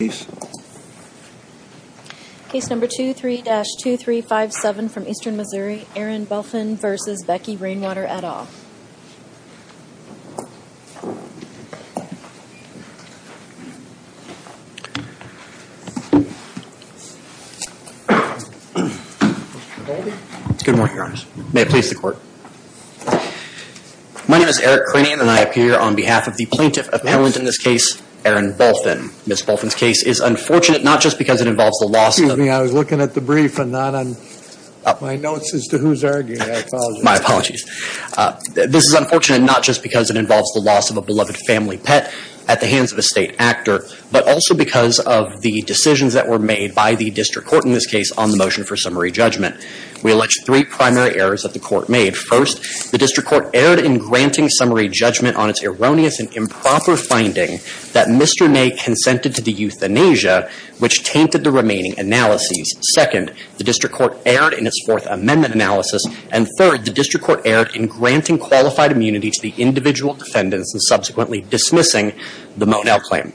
My name is Eric Cranium and I appear on behalf of the Plaintiff Appellant in this case, Erin Bulfin's case is unfortunate not just because it involves the loss of a beloved family pet at the hands of a state actor, but also because of the decisions that were made by the district court in this case on the motion for summary judgment. We allege three primary errors that the court made. First, the district court erred in granting summary judgment on its erroneous and improper finding that Mr. Ney consented to the euthanasia which tainted the remaining analyses. Second, the district court erred in its Fourth Amendment analysis. And third, the district court erred in granting qualified immunity to the individual defendants and subsequently dismissing the Monell claim.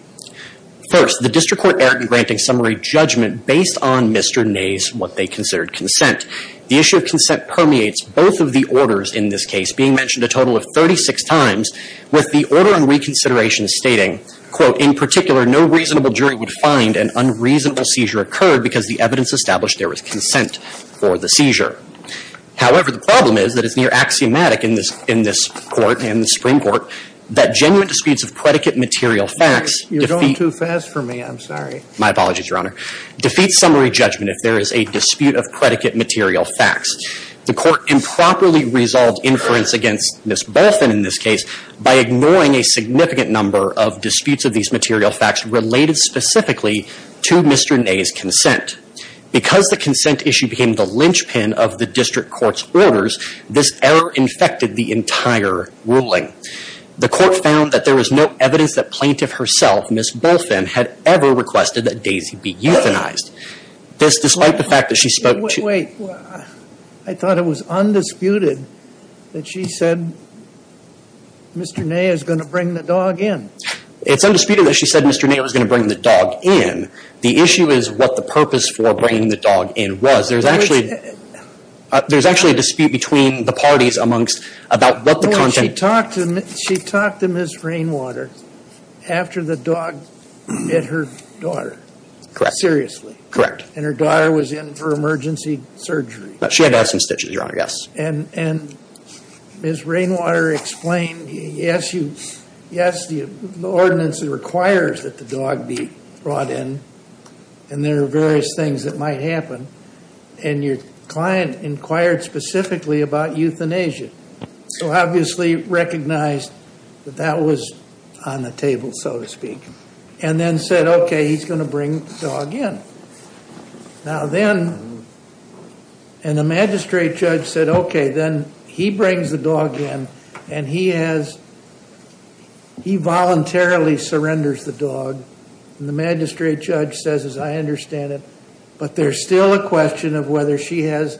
First, the district court erred in granting summary judgment based on Mr. Ney's what they considered consent. The issue of consent permeates both of the orders in this case, being mentioned a total of 36 times, with the order in reconsideration stating, quote, in particular, no reasonable jury would find an unreasonable seizure occurred because the evidence established there was consent for the seizure. However, the problem is that it's near axiomatic in this court, in the Supreme Court, that genuine disputes of predicate material facts defeat – You're going too fast for me. I'm sorry. My apologies, Your Honor. Defeat summary judgment if there is a dispute of predicate material facts. The court improperly resolved inference against Ms. Bolfin in this case by ignoring a significant number of disputes of these material facts related specifically to Mr. Ney's consent. Because the consent issue became the linchpin of the district court's orders, this error infected the entire ruling. The court found that there was no evidence that plaintiff herself, Ms. Bolfin, had ever requested that Daisy be euthanized. This, despite the fact that she spoke to – Wait. I thought it was undisputed that she said Mr. Ney is going to bring the dog in. It's undisputed that she said Mr. Ney was going to bring the dog in. The issue is what the purpose for bringing the dog in was. There's actually – there's actually a dispute between the parties amongst – about what the – She talked to Ms. Rainwater after the dog bit her daughter. Correct. Seriously. Correct. And her daughter was in for emergency surgery. She had to have some stitches, Your Honor, yes. And Ms. Rainwater explained, yes, the ordinance requires that the dog be brought in, and there are various things that might happen. And your client inquired specifically about euthanasia. So obviously recognized that that was on the table, so to speak, and then said, okay, he's going to bring the dog in. Now then – and the magistrate judge said, okay, then he brings the dog in, and he has – he voluntarily surrenders the dog. And the magistrate judge says, I understand it, but there's still a question of whether she has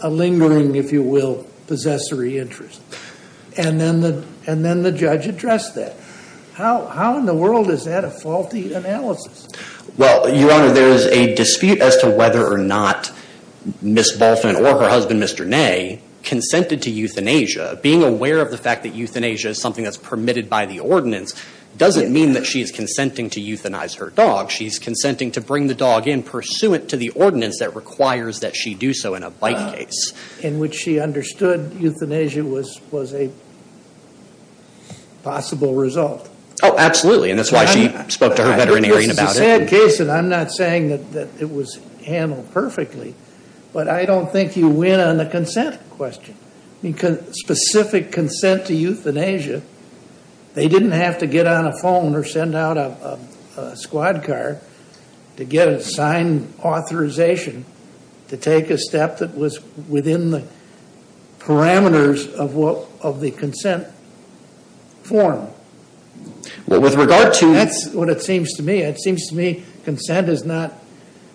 a lingering, if you will, possessory interest. And then the judge addressed that. How in the world is that a faulty analysis? Well, Your Honor, there is a dispute as to whether or not Ms. Balfin or her husband, Mr. Ney, consented to euthanasia. Being aware of the fact that euthanasia is something that's permitted by the ordinance doesn't mean that she's consenting to euthanize her dog. She's consenting to bring the dog in pursuant to the ordinance that requires that she do so in a bike case. In which she understood euthanasia was a possible result. Oh, absolutely, and that's why she spoke to her veterinarian about it. This is a sad case, and I'm not saying that it was handled perfectly, but I don't think you win on the consent question. Because specific consent to euthanasia, they didn't have to get on a phone or send out a squad car to get a signed authorization to take a step that was within the parameters of the consent form. With regard to... That's what it seems to me. It seems to me consent is not,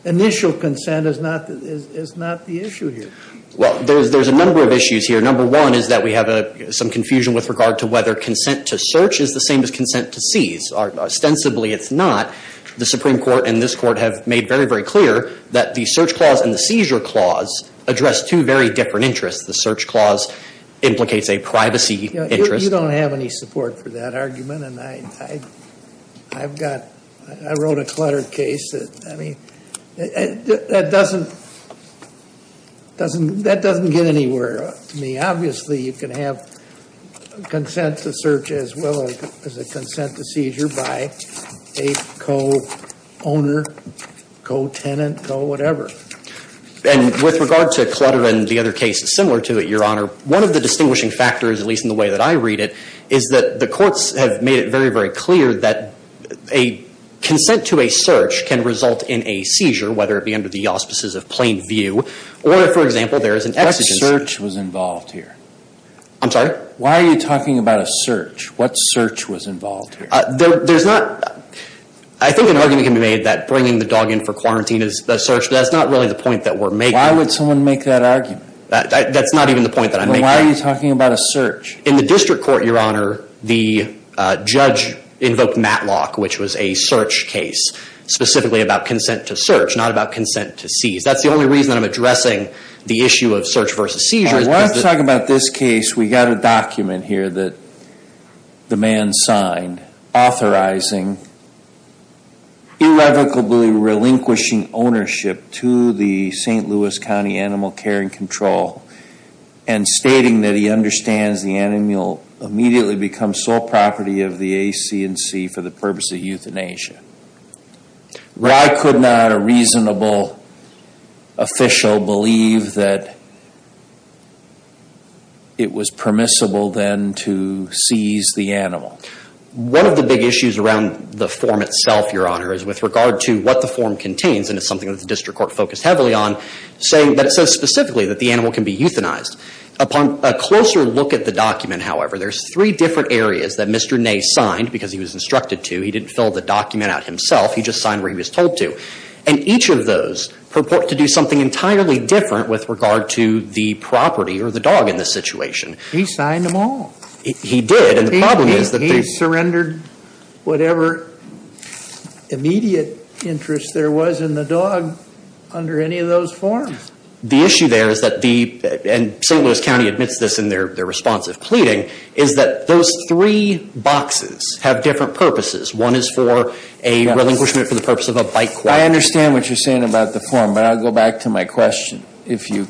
initial consent is not the issue here. Well, there's a number of issues here. Number one is that we have some confusion with regard to whether consent to search is the same as consent to seize. Ostensibly, it's not. The Supreme Court and this Court have made very, very clear that the search clause and the seizure clause address two very different interests. The search clause implicates a privacy interest. You don't have any support for that argument. I wrote a cluttered case. I mean, that doesn't get anywhere to me. Obviously, you can have consent to search as well as a consent to seizure by a co-owner, co-tenant, co-whatever. And with regard to clutter and the other cases similar to it, Your Honor, one of the distinguishing factors, at least in the way that I read it, is that the courts have made it very, very clear that a consent to a search can result in a seizure, whether it be under the auspices of plain view or, for example, there is an exigent... What search was involved here? I'm sorry? Why are you talking about a search? What search was involved here? There's not... I think an argument can be made that bringing the dog in for quarantine is a search, but that's not really the point that we're making. Why would someone make that argument? That's not even the point that I'm making. But why are you talking about a search? In the district court, Your Honor, the judge invoked Matlock, which was a search case, specifically about consent to search, not about consent to seize. That's the only reason that I'm addressing the issue of search versus seizure. When I'm talking about this case, we've got a document here that the man signed authorizing irrevocably relinquishing ownership to the St. Louis County Animal Care and Control and stating that he understands the animal immediately becomes sole property of the AC&C for the purpose of euthanasia. Why could not a reasonable official believe that it was permissible then to seize the animal? One of the big issues around the form itself, Your Honor, is with regard to what the form contains, and it's something that the district court focused heavily on, saying that it says specifically that the animal can be euthanized. Upon a closer look at the document, however, there's three different areas that Mr. Ney signed, because he was instructed to. He didn't fill the document out himself. He just signed where he was told to. And each of those purport to do something entirely different with regard to the property or the dog in this situation. He signed them all. He did, and the problem is that they He surrendered whatever immediate interest there was in the dog under any of those forms. The issue there is that the, and St. Louis County admits this in their responsive pleading, is that those three boxes have different purposes. One is for a relinquishment for the purpose of a bite question. I understand what you're saying about the form, but I'll go back to my question if you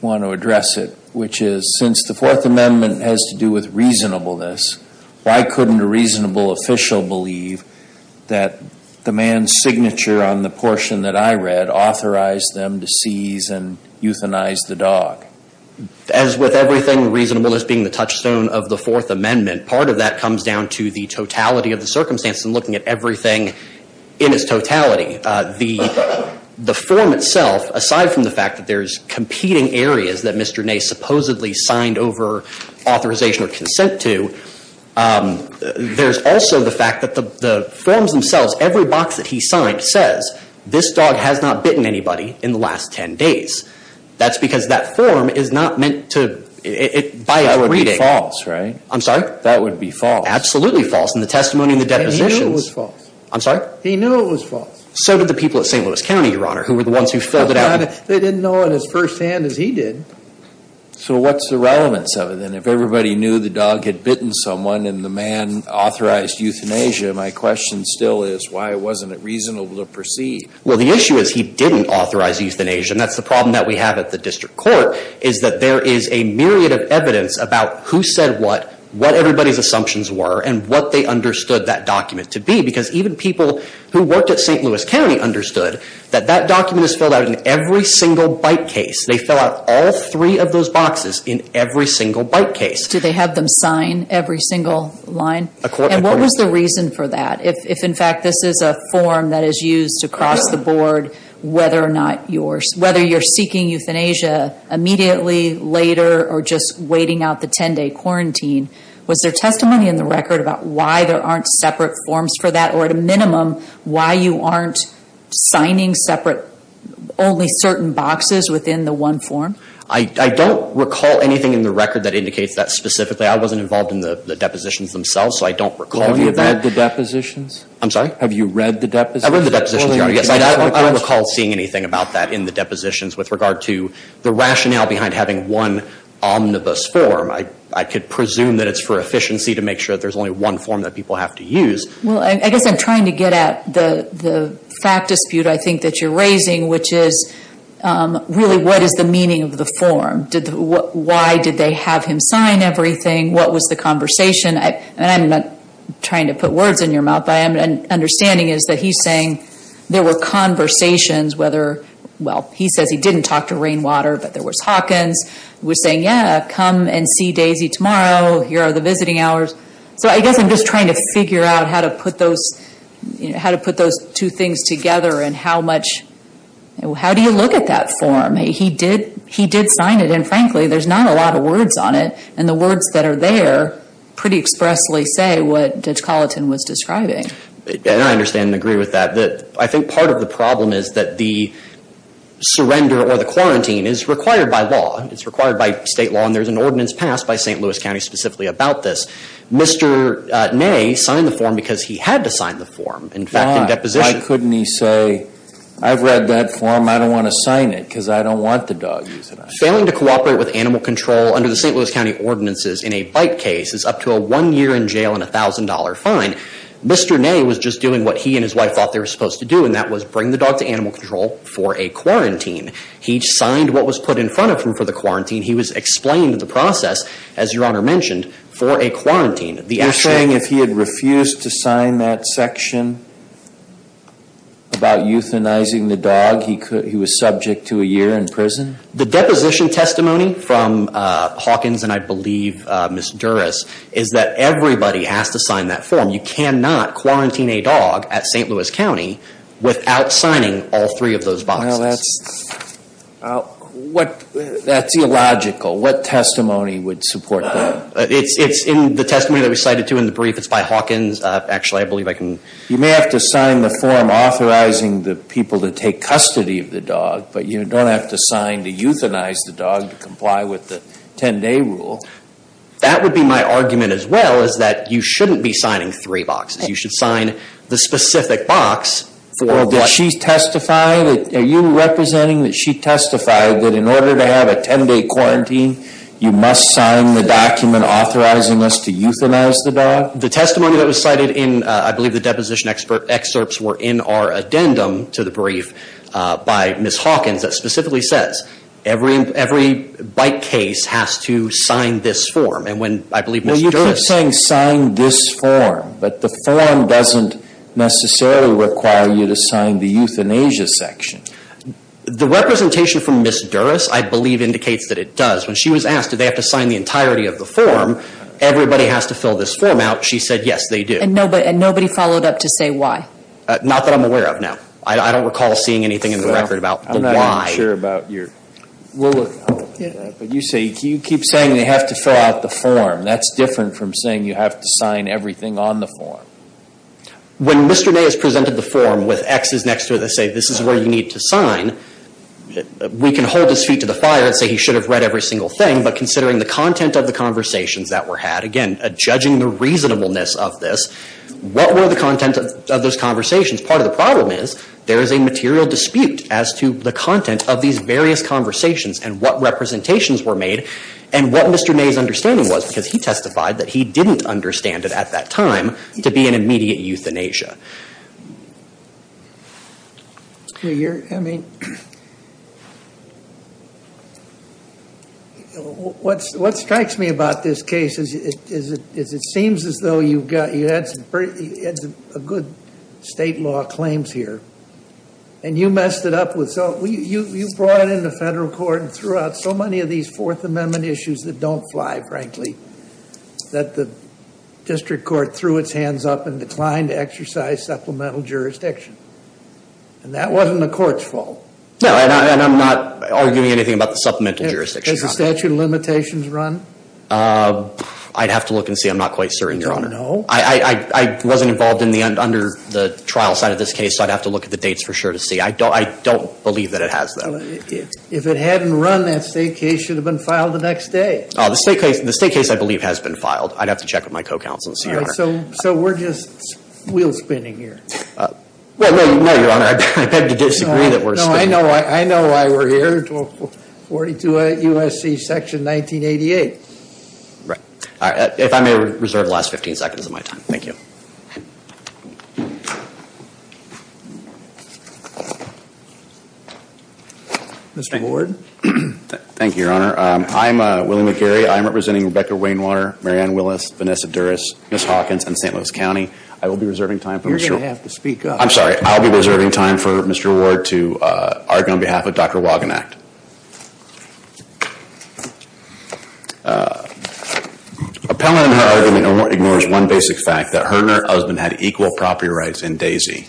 want to address it, which is since the Fourth Amendment has to do with reasonableness, why couldn't a reasonable official believe that the man's signature on the portion that I read authorized them to seize and euthanize the dog? As with everything, reasonableness being the touchstone of the Fourth Amendment. Part of that comes down to the totality of the circumstances and looking at everything in its totality. The form itself, aside from the fact that there's competing areas that Mr. Ney supposedly signed over authorization or consent to, there's also the fact that the forms themselves, every box that he signed says, this dog has not bitten anybody in the last 10 days. That's because that form is not meant to, by its reading. That would be false, right? I'm sorry? That would be false. Absolutely false in the testimony and the depositions. And he knew it was false. I'm sorry? He knew it was false. So did the people at St. Louis County, Your Honor, who were the ones who filled it out. They didn't know it as firsthand as he did. So what's the relevance of it? And if everybody knew the dog had bitten someone and the man authorized euthanasia, my question still is why wasn't it reasonable to proceed? Well, the issue is he didn't authorize euthanasia. And that's the problem that we have at the district court is that there is a myriad of evidence about who said what, what everybody's assumptions were, and what they understood that document to be. Because even people who worked at St. Louis County understood that that document is filled out in every single bite case. They fill out all three of those boxes in every single bite case. Did they have them sign every single line? Accordingly. And what was the reason for that? If, in fact, this is a form that is used across the board, whether or not you're seeking euthanasia immediately, later, or just waiting out the 10-day quarantine, was there testimony in the record about why there aren't separate forms for that? Or, at a minimum, why you aren't signing only certain boxes within the one form? I don't recall anything in the record that indicates that specifically. I wasn't involved in the depositions themselves, so I don't recall that. Have you read the depositions? I'm sorry? Have you read the depositions? I read the depositions, yes. I don't recall seeing anything about that in the depositions with regard to the rationale behind having one omnibus form. I could presume that it's for efficiency to make sure that there's only one form that people have to use. Well, I guess I'm trying to get at the fact dispute, I think, that you're raising, which is really what is the meaning of the form? Why did they have him sign everything? What was the conversation? I'm not trying to put words in your mouth, but my understanding is that he's saying there were conversations. Well, he says he didn't talk to Rainwater, but there was Hawkins. He was saying, yeah, come and see Daisy tomorrow. Here are the visiting hours. So I guess I'm just trying to figure out how to put those two things together and how do you look at that form? He did sign it, and frankly, there's not a lot of words on it. And the words that are there pretty expressly say what Judge Colleton was describing. And I understand and agree with that. I think part of the problem is that the surrender or the quarantine is required by law. It's required by state law, and there's an ordinance passed by St. Louis County specifically about this. Mr. Ney signed the form because he had to sign the form, in fact, in deposition. Why couldn't he say, I've read that form. I don't want to sign it because I don't want the dog to use it. Failing to cooperate with animal control under the St. Louis County ordinances in a bite case is up to a one-year in jail and $1,000 fine. Mr. Ney was just doing what he and his wife thought they were supposed to do, and that was bring the dog to animal control for a quarantine. He signed what was put in front of him for the quarantine. He was explained the process, as Your Honor mentioned, for a quarantine. You're saying if he had refused to sign that section about euthanizing the dog, he was subject to a year in prison? The deposition testimony from Hawkins and I believe Ms. Duras is that everybody has to sign that form. You cannot quarantine a dog at St. Louis County without signing all three of those boxes. That's illogical. What testimony would support that? It's in the testimony that we cited, too, in the brief. It's by Hawkins. Actually, I believe I can. You may have to sign the form authorizing the people to take custody of the dog, but you don't have to sign to euthanize the dog to comply with the 10-day rule. That would be my argument as well, is that you shouldn't be signing three boxes. You should sign the specific box. Did she testify? Are you representing that she testified that in order to have a 10-day quarantine, you must sign the document authorizing us to euthanize the dog? The testimony that was cited in, I believe, the deposition excerpts were in our addendum to the brief by Ms. Hawkins that specifically says, every bite case has to sign this form, and when I believe Ms. Duras – Well, you're saying sign this form, but the form doesn't necessarily require you to sign the euthanasia section. The representation from Ms. Duras, I believe, indicates that it does. When she was asked, do they have to sign the entirety of the form, everybody has to fill this form out. She said, yes, they do. And nobody followed up to say why? Not that I'm aware of, no. I don't recall seeing anything in the record about the why. I'm not even sure about your – You keep saying they have to fill out the form. That's different from saying you have to sign everything on the form. When Mr. May has presented the form with X's next to it that say, this is where you need to sign, we can hold his feet to the fire and say he should have read every single thing, but considering the content of the conversations that were had, again, judging the reasonableness of this, what were the content of those conversations? Part of the problem is there is a material dispute as to the content of these various conversations and what representations were made and what Mr. May's understanding was, because he testified that he didn't understand it at that time, to be an immediate euthanasia. I mean, what strikes me about this case is it seems as though you had some good state law claims here, and you messed it up. You brought it in the federal court and threw out so many of these Fourth Amendment issues that don't fly, frankly, that the district court threw its hands up and declined to exercise supplemental jurisdiction. And that wasn't the court's fault. No, and I'm not arguing anything about the supplemental jurisdiction. Has the statute of limitations run? I'd have to look and see. I'm not quite certain, Your Honor. You don't know? I wasn't involved under the trial side of this case, so I'd have to look at the dates for sure to see. I don't believe that it has, though. If it hadn't run, that state case should have been filed the next day. The state case, I believe, has been filed. I'd have to check with my co-counsel and see, Your Honor. So we're just wheel-spinning here. Well, no, Your Honor, I beg to disagree that we're spinning. No, I know why we're here, 1242 U.S.C. Section 1988. Right. If I may reserve the last 15 seconds of my time. Thank you. Mr. Ward? Thank you, Your Honor. I'm William McGarry. I'm representing Rebecca Wainwater, Mary Ann Willis, Vanessa Durris, Miss Hawkins, and St. Louis County. I will be reserving time for Mr. Ward. You're going to have to speak up. I'm sorry. I'll be reserving time for Mr. Ward to argue on behalf of Dr. Wagenknecht. Appellant in her argument ignores one basic fact, that her and her husband had equal property rights in Daisy.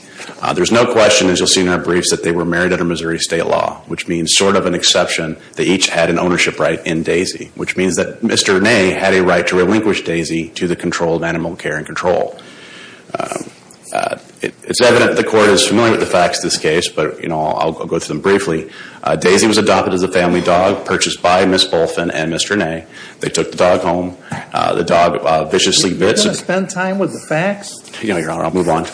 There's no question, as you'll see in her briefs, that they were married under Missouri state law, which means sort of an exception, they each had an ownership right in Daisy, which means that Mr. Ney had a right to relinquish Daisy to the control of animal care and control. It's evident the court is familiar with the facts of this case, but, you know, I'll go through them briefly. Daisy was adopted as a family dog, purchased by Miss Bolfin and Mr. Ney. They took the dog home. The dog viciously bits. Are you going to spend time with the facts? No, Your Honor, I'll move on.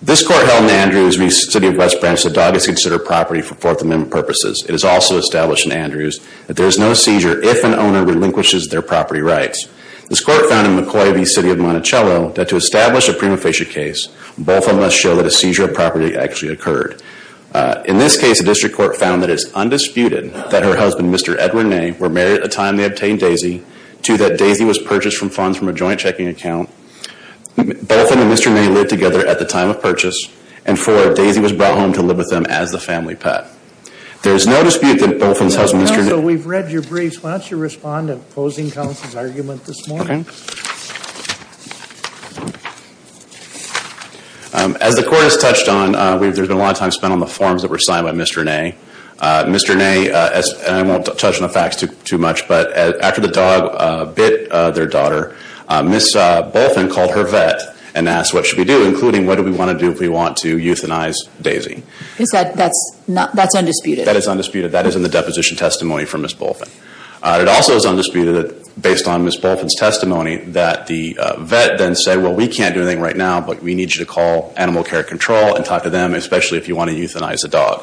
This court held in Andrews v. City of West Branch the dog is considered property for Fourth Amendment purposes. It is also established in Andrews that there is no seizure if an owner relinquishes their property rights. This court found in McCoy v. City of Monticello that to establish a prima facie case, both of them must show that a seizure of property actually occurred. In this case, the district court found that it is undisputed that her husband, Mr. Edwin Ney, were married at the time they obtained Daisy, to that Daisy was purchased from funds from a joint checking account. Bolfin and Mr. Ney lived together at the time of purchase, and for Daisy was brought home to live with them as the family pet. There is no dispute that Bolfin's husband, Mr. Ney. Counsel, we've read your briefs. Why don't you respond to opposing counsel's argument this morning? Okay. As the court has touched on, there's been a lot of time spent on the forms that were signed by Mr. Ney. Mr. Ney, and I won't touch on the facts too much, but after the dog bit their daughter, Ms. Bolfin called her vet and asked, what should we do? Including, what do we want to do if we want to euthanize Daisy? That's undisputed. That is undisputed. That is in the deposition testimony from Ms. Bolfin. It also is undisputed, based on Ms. Bolfin's testimony, that the vet then said, well, we can't do anything right now, but we need you to call Animal Care Control and talk to them, especially if you want to euthanize the dog.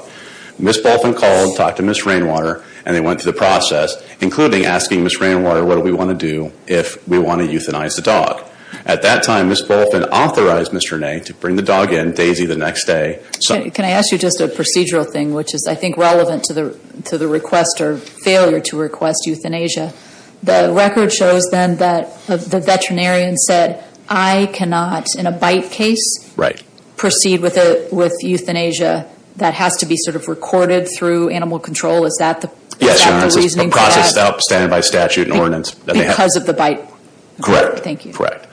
Ms. Bolfin called, talked to Ms. Rainwater, and they went through the process, including asking Ms. Rainwater what do we want to do if we want to euthanize the dog. At that time, Ms. Bolfin authorized Mr. Ney to bring the dog in, Daisy the next day. Can I ask you just a procedural thing, which is, I think, relevant to the request or failure to request euthanasia? The record shows, then, that the veterinarian said, I cannot, in a bite case, proceed with euthanasia that has to be sort of recorded through Animal Control. Is that the reasoning for that? Yes, Your Honor, it's a process outstanding by statute and ordinance. Because of the bite? Correct. Thank you. Correct.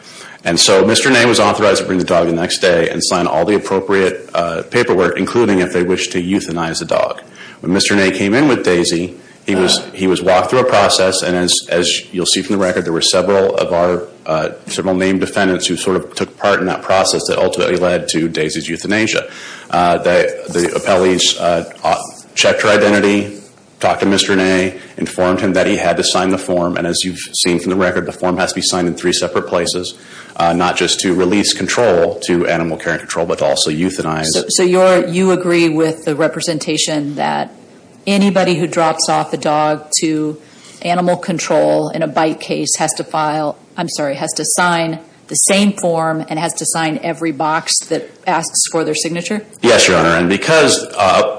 And so Mr. Ney was authorized to bring the dog in the next day and sign all the appropriate paperwork, including if they wished to euthanize the dog. When Mr. Ney came in with Daisy, he was walked through a process, and as you'll see from the record, there were several of our, several named defendants who sort of took part in that process that ultimately led to Daisy's euthanasia. The appellees checked her identity, talked to Mr. Ney, informed him that he had to sign the form, and as you've seen from the record, the form has to be signed in three separate places, not just to release control to Animal Care and Control, but to also euthanize. So you agree with the representation that anybody who drops off a dog to Animal Control in a bite case has to sign the same form and has to sign every box that asks for their signature? Yes, Your Honor, and because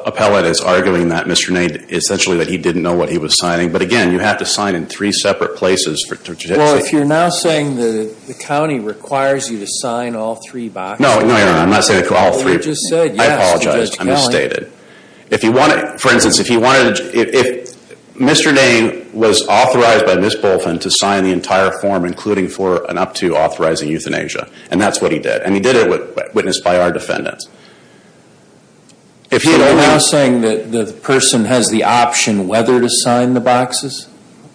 appellate is arguing that Mr. Ney, essentially that he didn't know what he was signing. But again, you have to sign in three separate places. Well, if you're now saying the county requires you to sign all three boxes. No, Your Honor, I'm not saying all three. Well, you just said yes to Judge Kelly. I apologize, I misstated. For instance, if Mr. Ney was authorized by Ms. Bolton to sign the entire form, including for an up-to authorizing euthanasia, and that's what he did, and he did it witnessed by our defendants. So you're now saying that the person has the option whether to sign the boxes?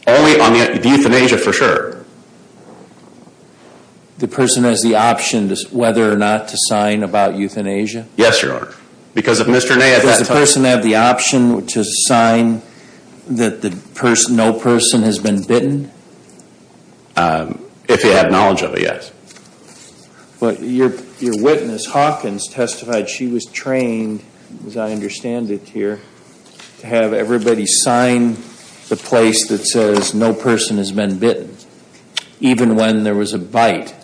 Only on the euthanasia for sure. The person has the option whether or not to sign about euthanasia? Yes, Your Honor. Because if Mr. Ney at that time... Does the person have the option to sign that no person has been bitten? If he had knowledge of it, yes. But your witness, Hawkins, testified she was trained, as I understand it here, to have everybody sign the place that says no person has been bitten, even when there was a bite.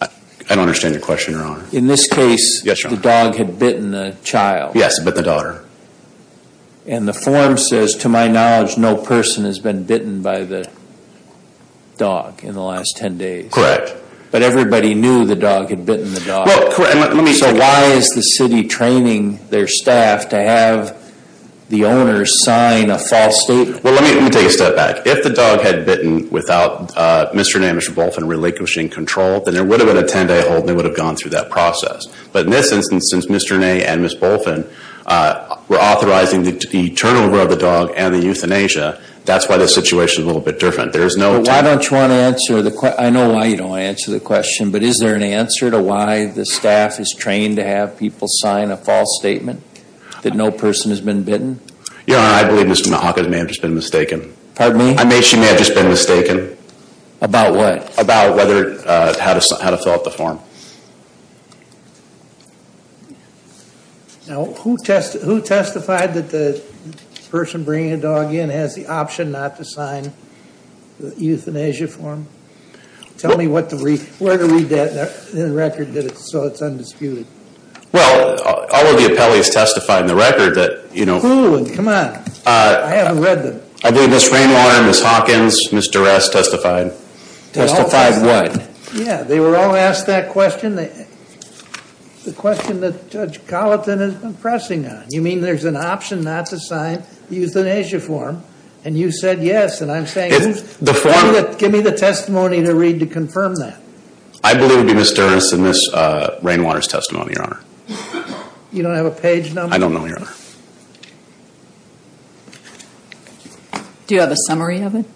I don't understand your question, Your Honor. In this case, the dog had bitten the child. Yes, but the daughter. And the form says, to my knowledge, no person has been bitten by the dog in the last 10 days. Correct. But everybody knew the dog had bitten the dog. Well, correct. So why is the city training their staff to have the owner sign a false statement? Well, let me take a step back. If the dog had bitten without Mr. Ney and Ms. Bolton relinquishing control, then there would have been a 10-day hold and they would have gone through that process. But in this instance, since Mr. Ney and Ms. Bolton were authorizing the turnover of the dog and the euthanasia, that's why the situation is a little bit different. There is no... But why don't you want to answer... I know why you don't want to answer the question, but is there an answer to why the staff is trained to have people sign a false statement that no person has been bitten? Your Honor, I believe Ms. Hawkins may have just been mistaken. Pardon me? She may have just been mistaken. About what? About how to fill out the form. Now, who testified that the person bringing the dog in has the option not to sign the euthanasia form? Tell me where to read that in the record so it's undisputed. Well, all of the appellees testified in the record that... Who? Come on. I haven't read them. I believe Ms. Rainwater, Ms. Hawkins, Ms. Duress testified. Testified what? Yeah, they were all asked that question, the question that Judge Colleton has been pressing on. You mean there's an option not to sign the euthanasia form, and you said yes, and I'm saying... The form... Give me the testimony to read to confirm that. I believe it would be Ms. Duress and Ms. Rainwater's testimony, Your Honor. I don't know, Your Honor. Do you have a summary of it?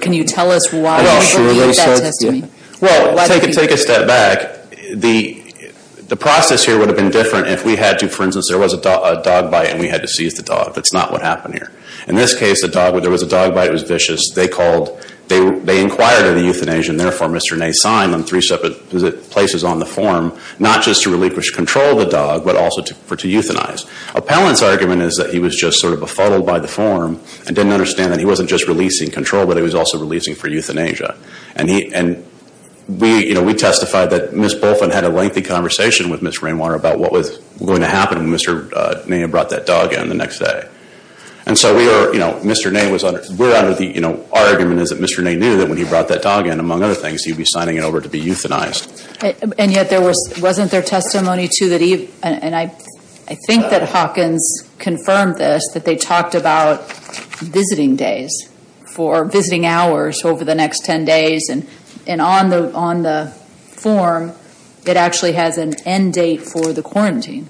Can you tell us why you believe that testimony? Well, take a step back. The process here would have been different if we had to. For instance, there was a dog bite, and we had to seize the dog. That's not what happened here. In this case, there was a dog bite. It was vicious. They called... They inquired of the euthanasia, and therefore Mr. Ney signed on three separate places on the form, not just to relinquish control of the dog, but also for it to euthanize. Appellant's argument is that he was just sort of befuddled by the form and didn't understand that he wasn't just releasing control, but he was also releasing for euthanasia. And he... And we... You know, we testified that Ms. Bolfin had a lengthy conversation with Ms. Rainwater about what was going to happen when Mr. Ney brought that dog in the next day. And so we are... You know, Mr. Ney was... We're under the... You know, our argument is that Mr. Ney knew that when he brought that dog in, among other things, he'd be signing it over to be euthanized. And yet there was... Wasn't there testimony to that he... And I... I think that Hawkins confirmed this, that they talked about visiting days for... Visiting hours over the next 10 days. And on the... On the form, it actually has an end date for the quarantine.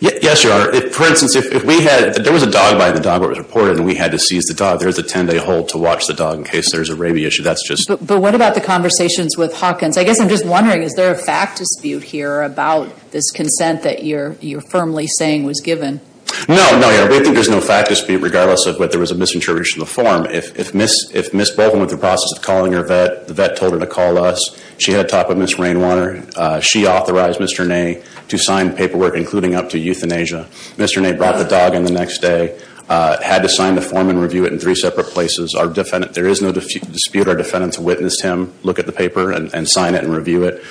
Yes, Your Honor. For instance, if we had... If there was a dog by the dog that was reported and we had to seize the dog, there's a 10-day hold to watch the dog in case there's a rabies issue. That's just... But what about the conversations with Hawkins? I guess I'm just wondering, is there a fact dispute here about this consent that you're... You're firmly saying was given? No. No, Your Honor. We think there's no fact dispute regardless of whether there was a misintroduction of the form. If... If... If Ms. Bolton went through the process of calling her vet, the vet told her to call us. She had a talk with Ms. Rainwater. She authorized Mr. Ney to sign paperwork including up to euthanasia. Mr. Ney brought the dog in the next day. Had to sign the form and review it in three separate places. Our defendant... There is no dispute. We had our defendant witness him look at the paper and sign it and review it.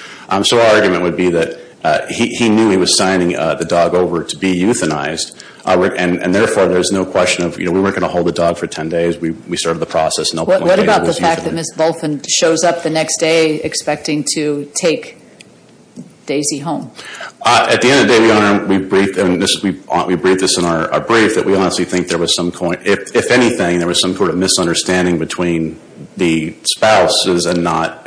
So our argument would be that he knew he was signing the dog over to be euthanized. And therefore, there's no question of, you know, we weren't going to hold the dog for 10 days. We started the process. What about the fact that Ms. Bolton shows up the next day expecting to take Daisy home? At the end of the day, Your Honor, we briefed... We briefed this in our brief that we honestly think there was some... and not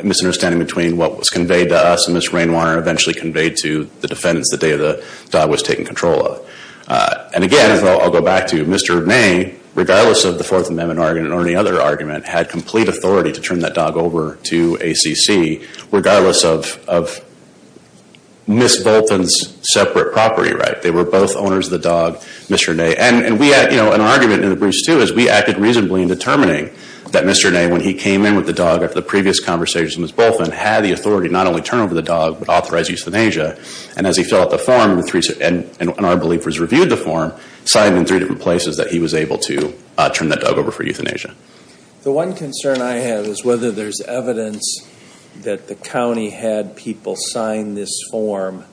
a misunderstanding between what was conveyed to us and Ms. Rainwater eventually conveyed to the defendants the day the dog was taken control of. And again, I'll go back to Mr. Ney, regardless of the Fourth Amendment argument or any other argument, had complete authority to turn that dog over to ACC regardless of Ms. Bolton's separate property right. They were both owners of the dog, Mr. Ney. And we had, you know, an argument in the briefs too is we acted reasonably in determining that Mr. Ney, when he came in with the dog after the previous conversation with Ms. Bolton, had the authority to not only turn over the dog but authorize euthanasia. And as he filled out the form, and I believe was reviewed the form, signed in three different places that he was able to turn that dog over for euthanasia. The one concern I have is whether there's evidence that the county had people sign this form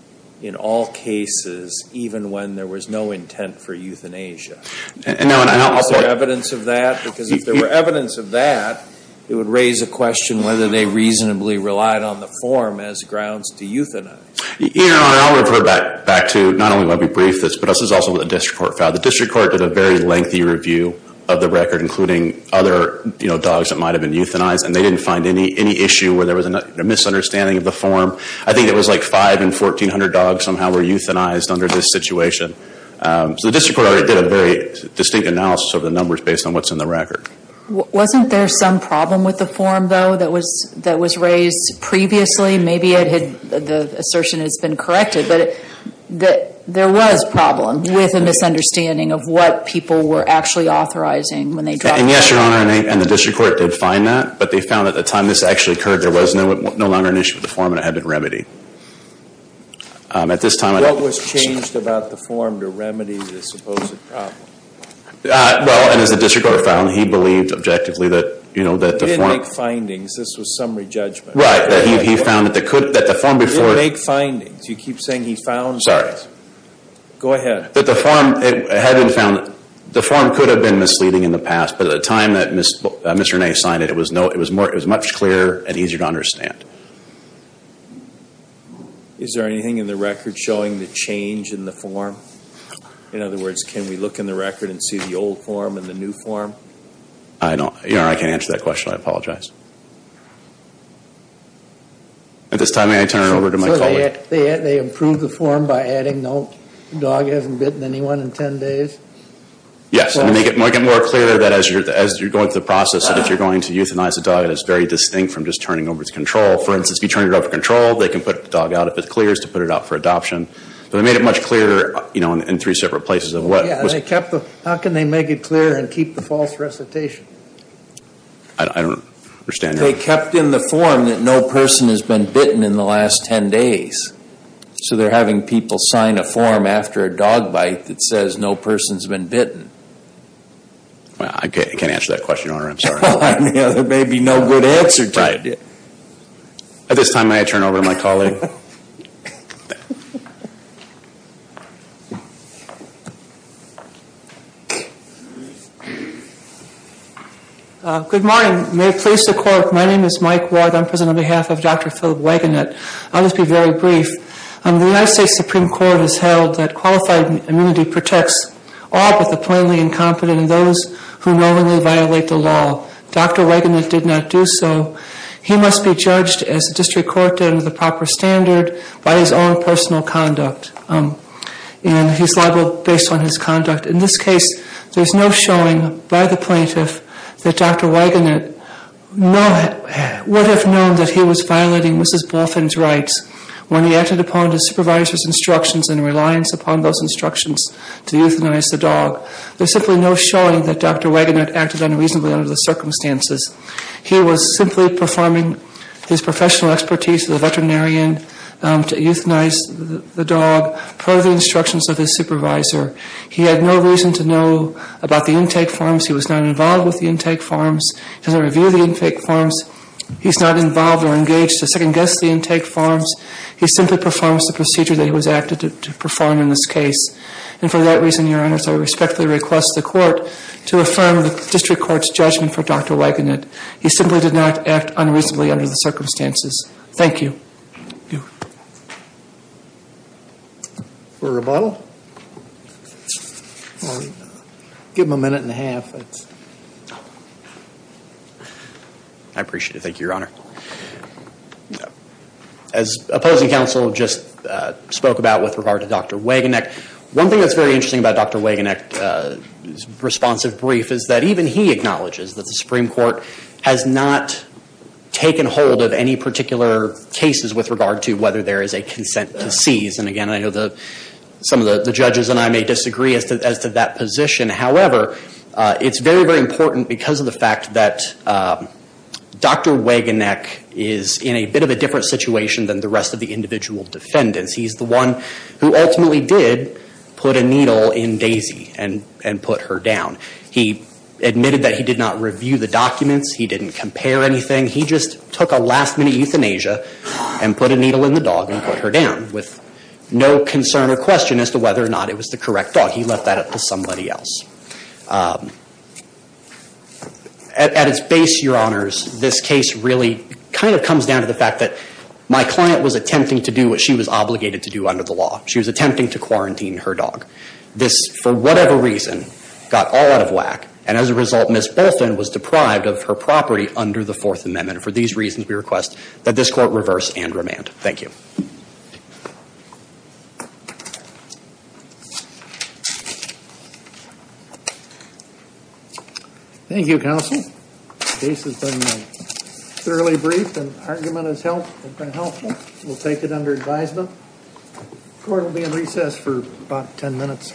in all cases, even when there was no intent for euthanasia. Is there evidence of that? Because if there were evidence of that, it would raise a question whether they reasonably relied on the form as grounds to euthanize. Your Honor, I'll refer back to not only my brief, but also the district court file. The district court did a very lengthy review of the record, including other dogs that might have been euthanized, and they didn't find any issue where there was a misunderstanding of the form. I think it was like five in 1,400 dogs somehow were euthanized under this situation. So the district court already did a very distinct analysis of the numbers based on what's in the record. Wasn't there some problem with the form, though, that was raised previously? Maybe the assertion has been corrected, but there was a problem with a misunderstanding of what people were actually authorizing when they dropped the form. And yes, Your Honor, and the district court did find that, but they found at the time this actually occurred there was no longer an issue with the form and it had been remedied. What was changed about the form to remedy the supposed problem? Well, as the district court found, he believed objectively that the form He didn't make findings. This was summary judgment. Right. He found that the form before He didn't make findings. You keep saying he found it. Sorry. Go ahead. The form could have been misleading in the past, but at the time that Mr. Ney signed it, it was much clearer and easier to understand. Is there anything in the record showing the change in the form? In other words, can we look in the record and see the old form and the new form? Your Honor, I can't answer that question. I apologize. At this time, may I turn it over to my colleague? So they improved the form by adding, no, the dog hasn't bitten anyone in 10 days? Yes, and to make it more clear that as you're going through the process, that if you're going to euthanize a dog, it is very distinct from just turning over its control. For instance, if you turn your dog for control, they can put the dog out if it clears to put it out for adoption. They made it much clearer in three separate places. How can they make it clearer and keep the false recitation? I don't understand. They kept in the form that no person has been bitten in the last 10 days. So they're having people sign a form after a dog bite that says no person has been bitten. Well, I mean, there may be no good answer to that. At this time, may I turn it over to my colleague? Good morning. May it please the Court, my name is Mike Ward. I'm present on behalf of Dr. Philip Wagenknecht. I'll just be very brief. The United States Supreme Court has held that qualified immunity protects all but the plainly incompetent and those who knowingly violate the law. Dr. Wagenknecht did not do so. He must be judged, as the district court did, under the proper standard by his own personal conduct. And he's liable based on his conduct. In this case, there's no showing by the plaintiff that Dr. Wagenknecht would have known that he was violating Mrs. Bolfin's rights when he acted upon the supervisor's instructions and reliance upon those instructions to euthanize the dog. There's simply no showing that Dr. Wagenknecht acted unreasonably under the circumstances. He was simply performing his professional expertise as a veterinarian to euthanize the dog per the instructions of his supervisor. He had no reason to know about the intake forms. He was not involved with the intake forms. As I review the intake forms, he's not involved or engaged to second-guess the intake forms. He simply performs the procedure that he was asked to perform in this case. And for that reason, Your Honors, I respectfully request the court to affirm the district court's judgment for Dr. Wagenknecht. He simply did not act unreasonably under the circumstances. Thank you. Thank you. For rebuttal? Give him a minute and a half. I appreciate it. Thank you, Your Honor. As opposing counsel just spoke about with regard to Dr. Wagenknecht, one thing that's very interesting about Dr. Wagenknecht's responsive brief is that even he acknowledges that the Supreme Court has not taken hold of any particular cases with regard to whether there is a consent to seize. And again, I know some of the judges and I may disagree as to that position. However, it's very, very important because of the fact that Dr. Wagenknecht is in a bit of a different situation than the rest of the individual defendants. He's the one who ultimately did put a needle in Daisy and put her down. He admitted that he did not review the documents. He didn't compare anything. He just took a last-minute euthanasia and put a needle in the dog and put her down with no concern or question as to whether or not it was the correct dog. He left that up to somebody else. At its base, Your Honors, this case really kind of comes down to the fact that my client was attempting to do what she was obligated to do under the law. She was attempting to quarantine her dog. This, for whatever reason, got all out of whack. And as a result, Ms. Bolton was deprived of her property under the Fourth Amendment. For these reasons, we request that this Court reverse and remand. Thank you. Thank you, Counsel. The case has been thoroughly briefed and the argument has been helpful. We'll take it under advisement. The Court will be in recess for about 10 minutes.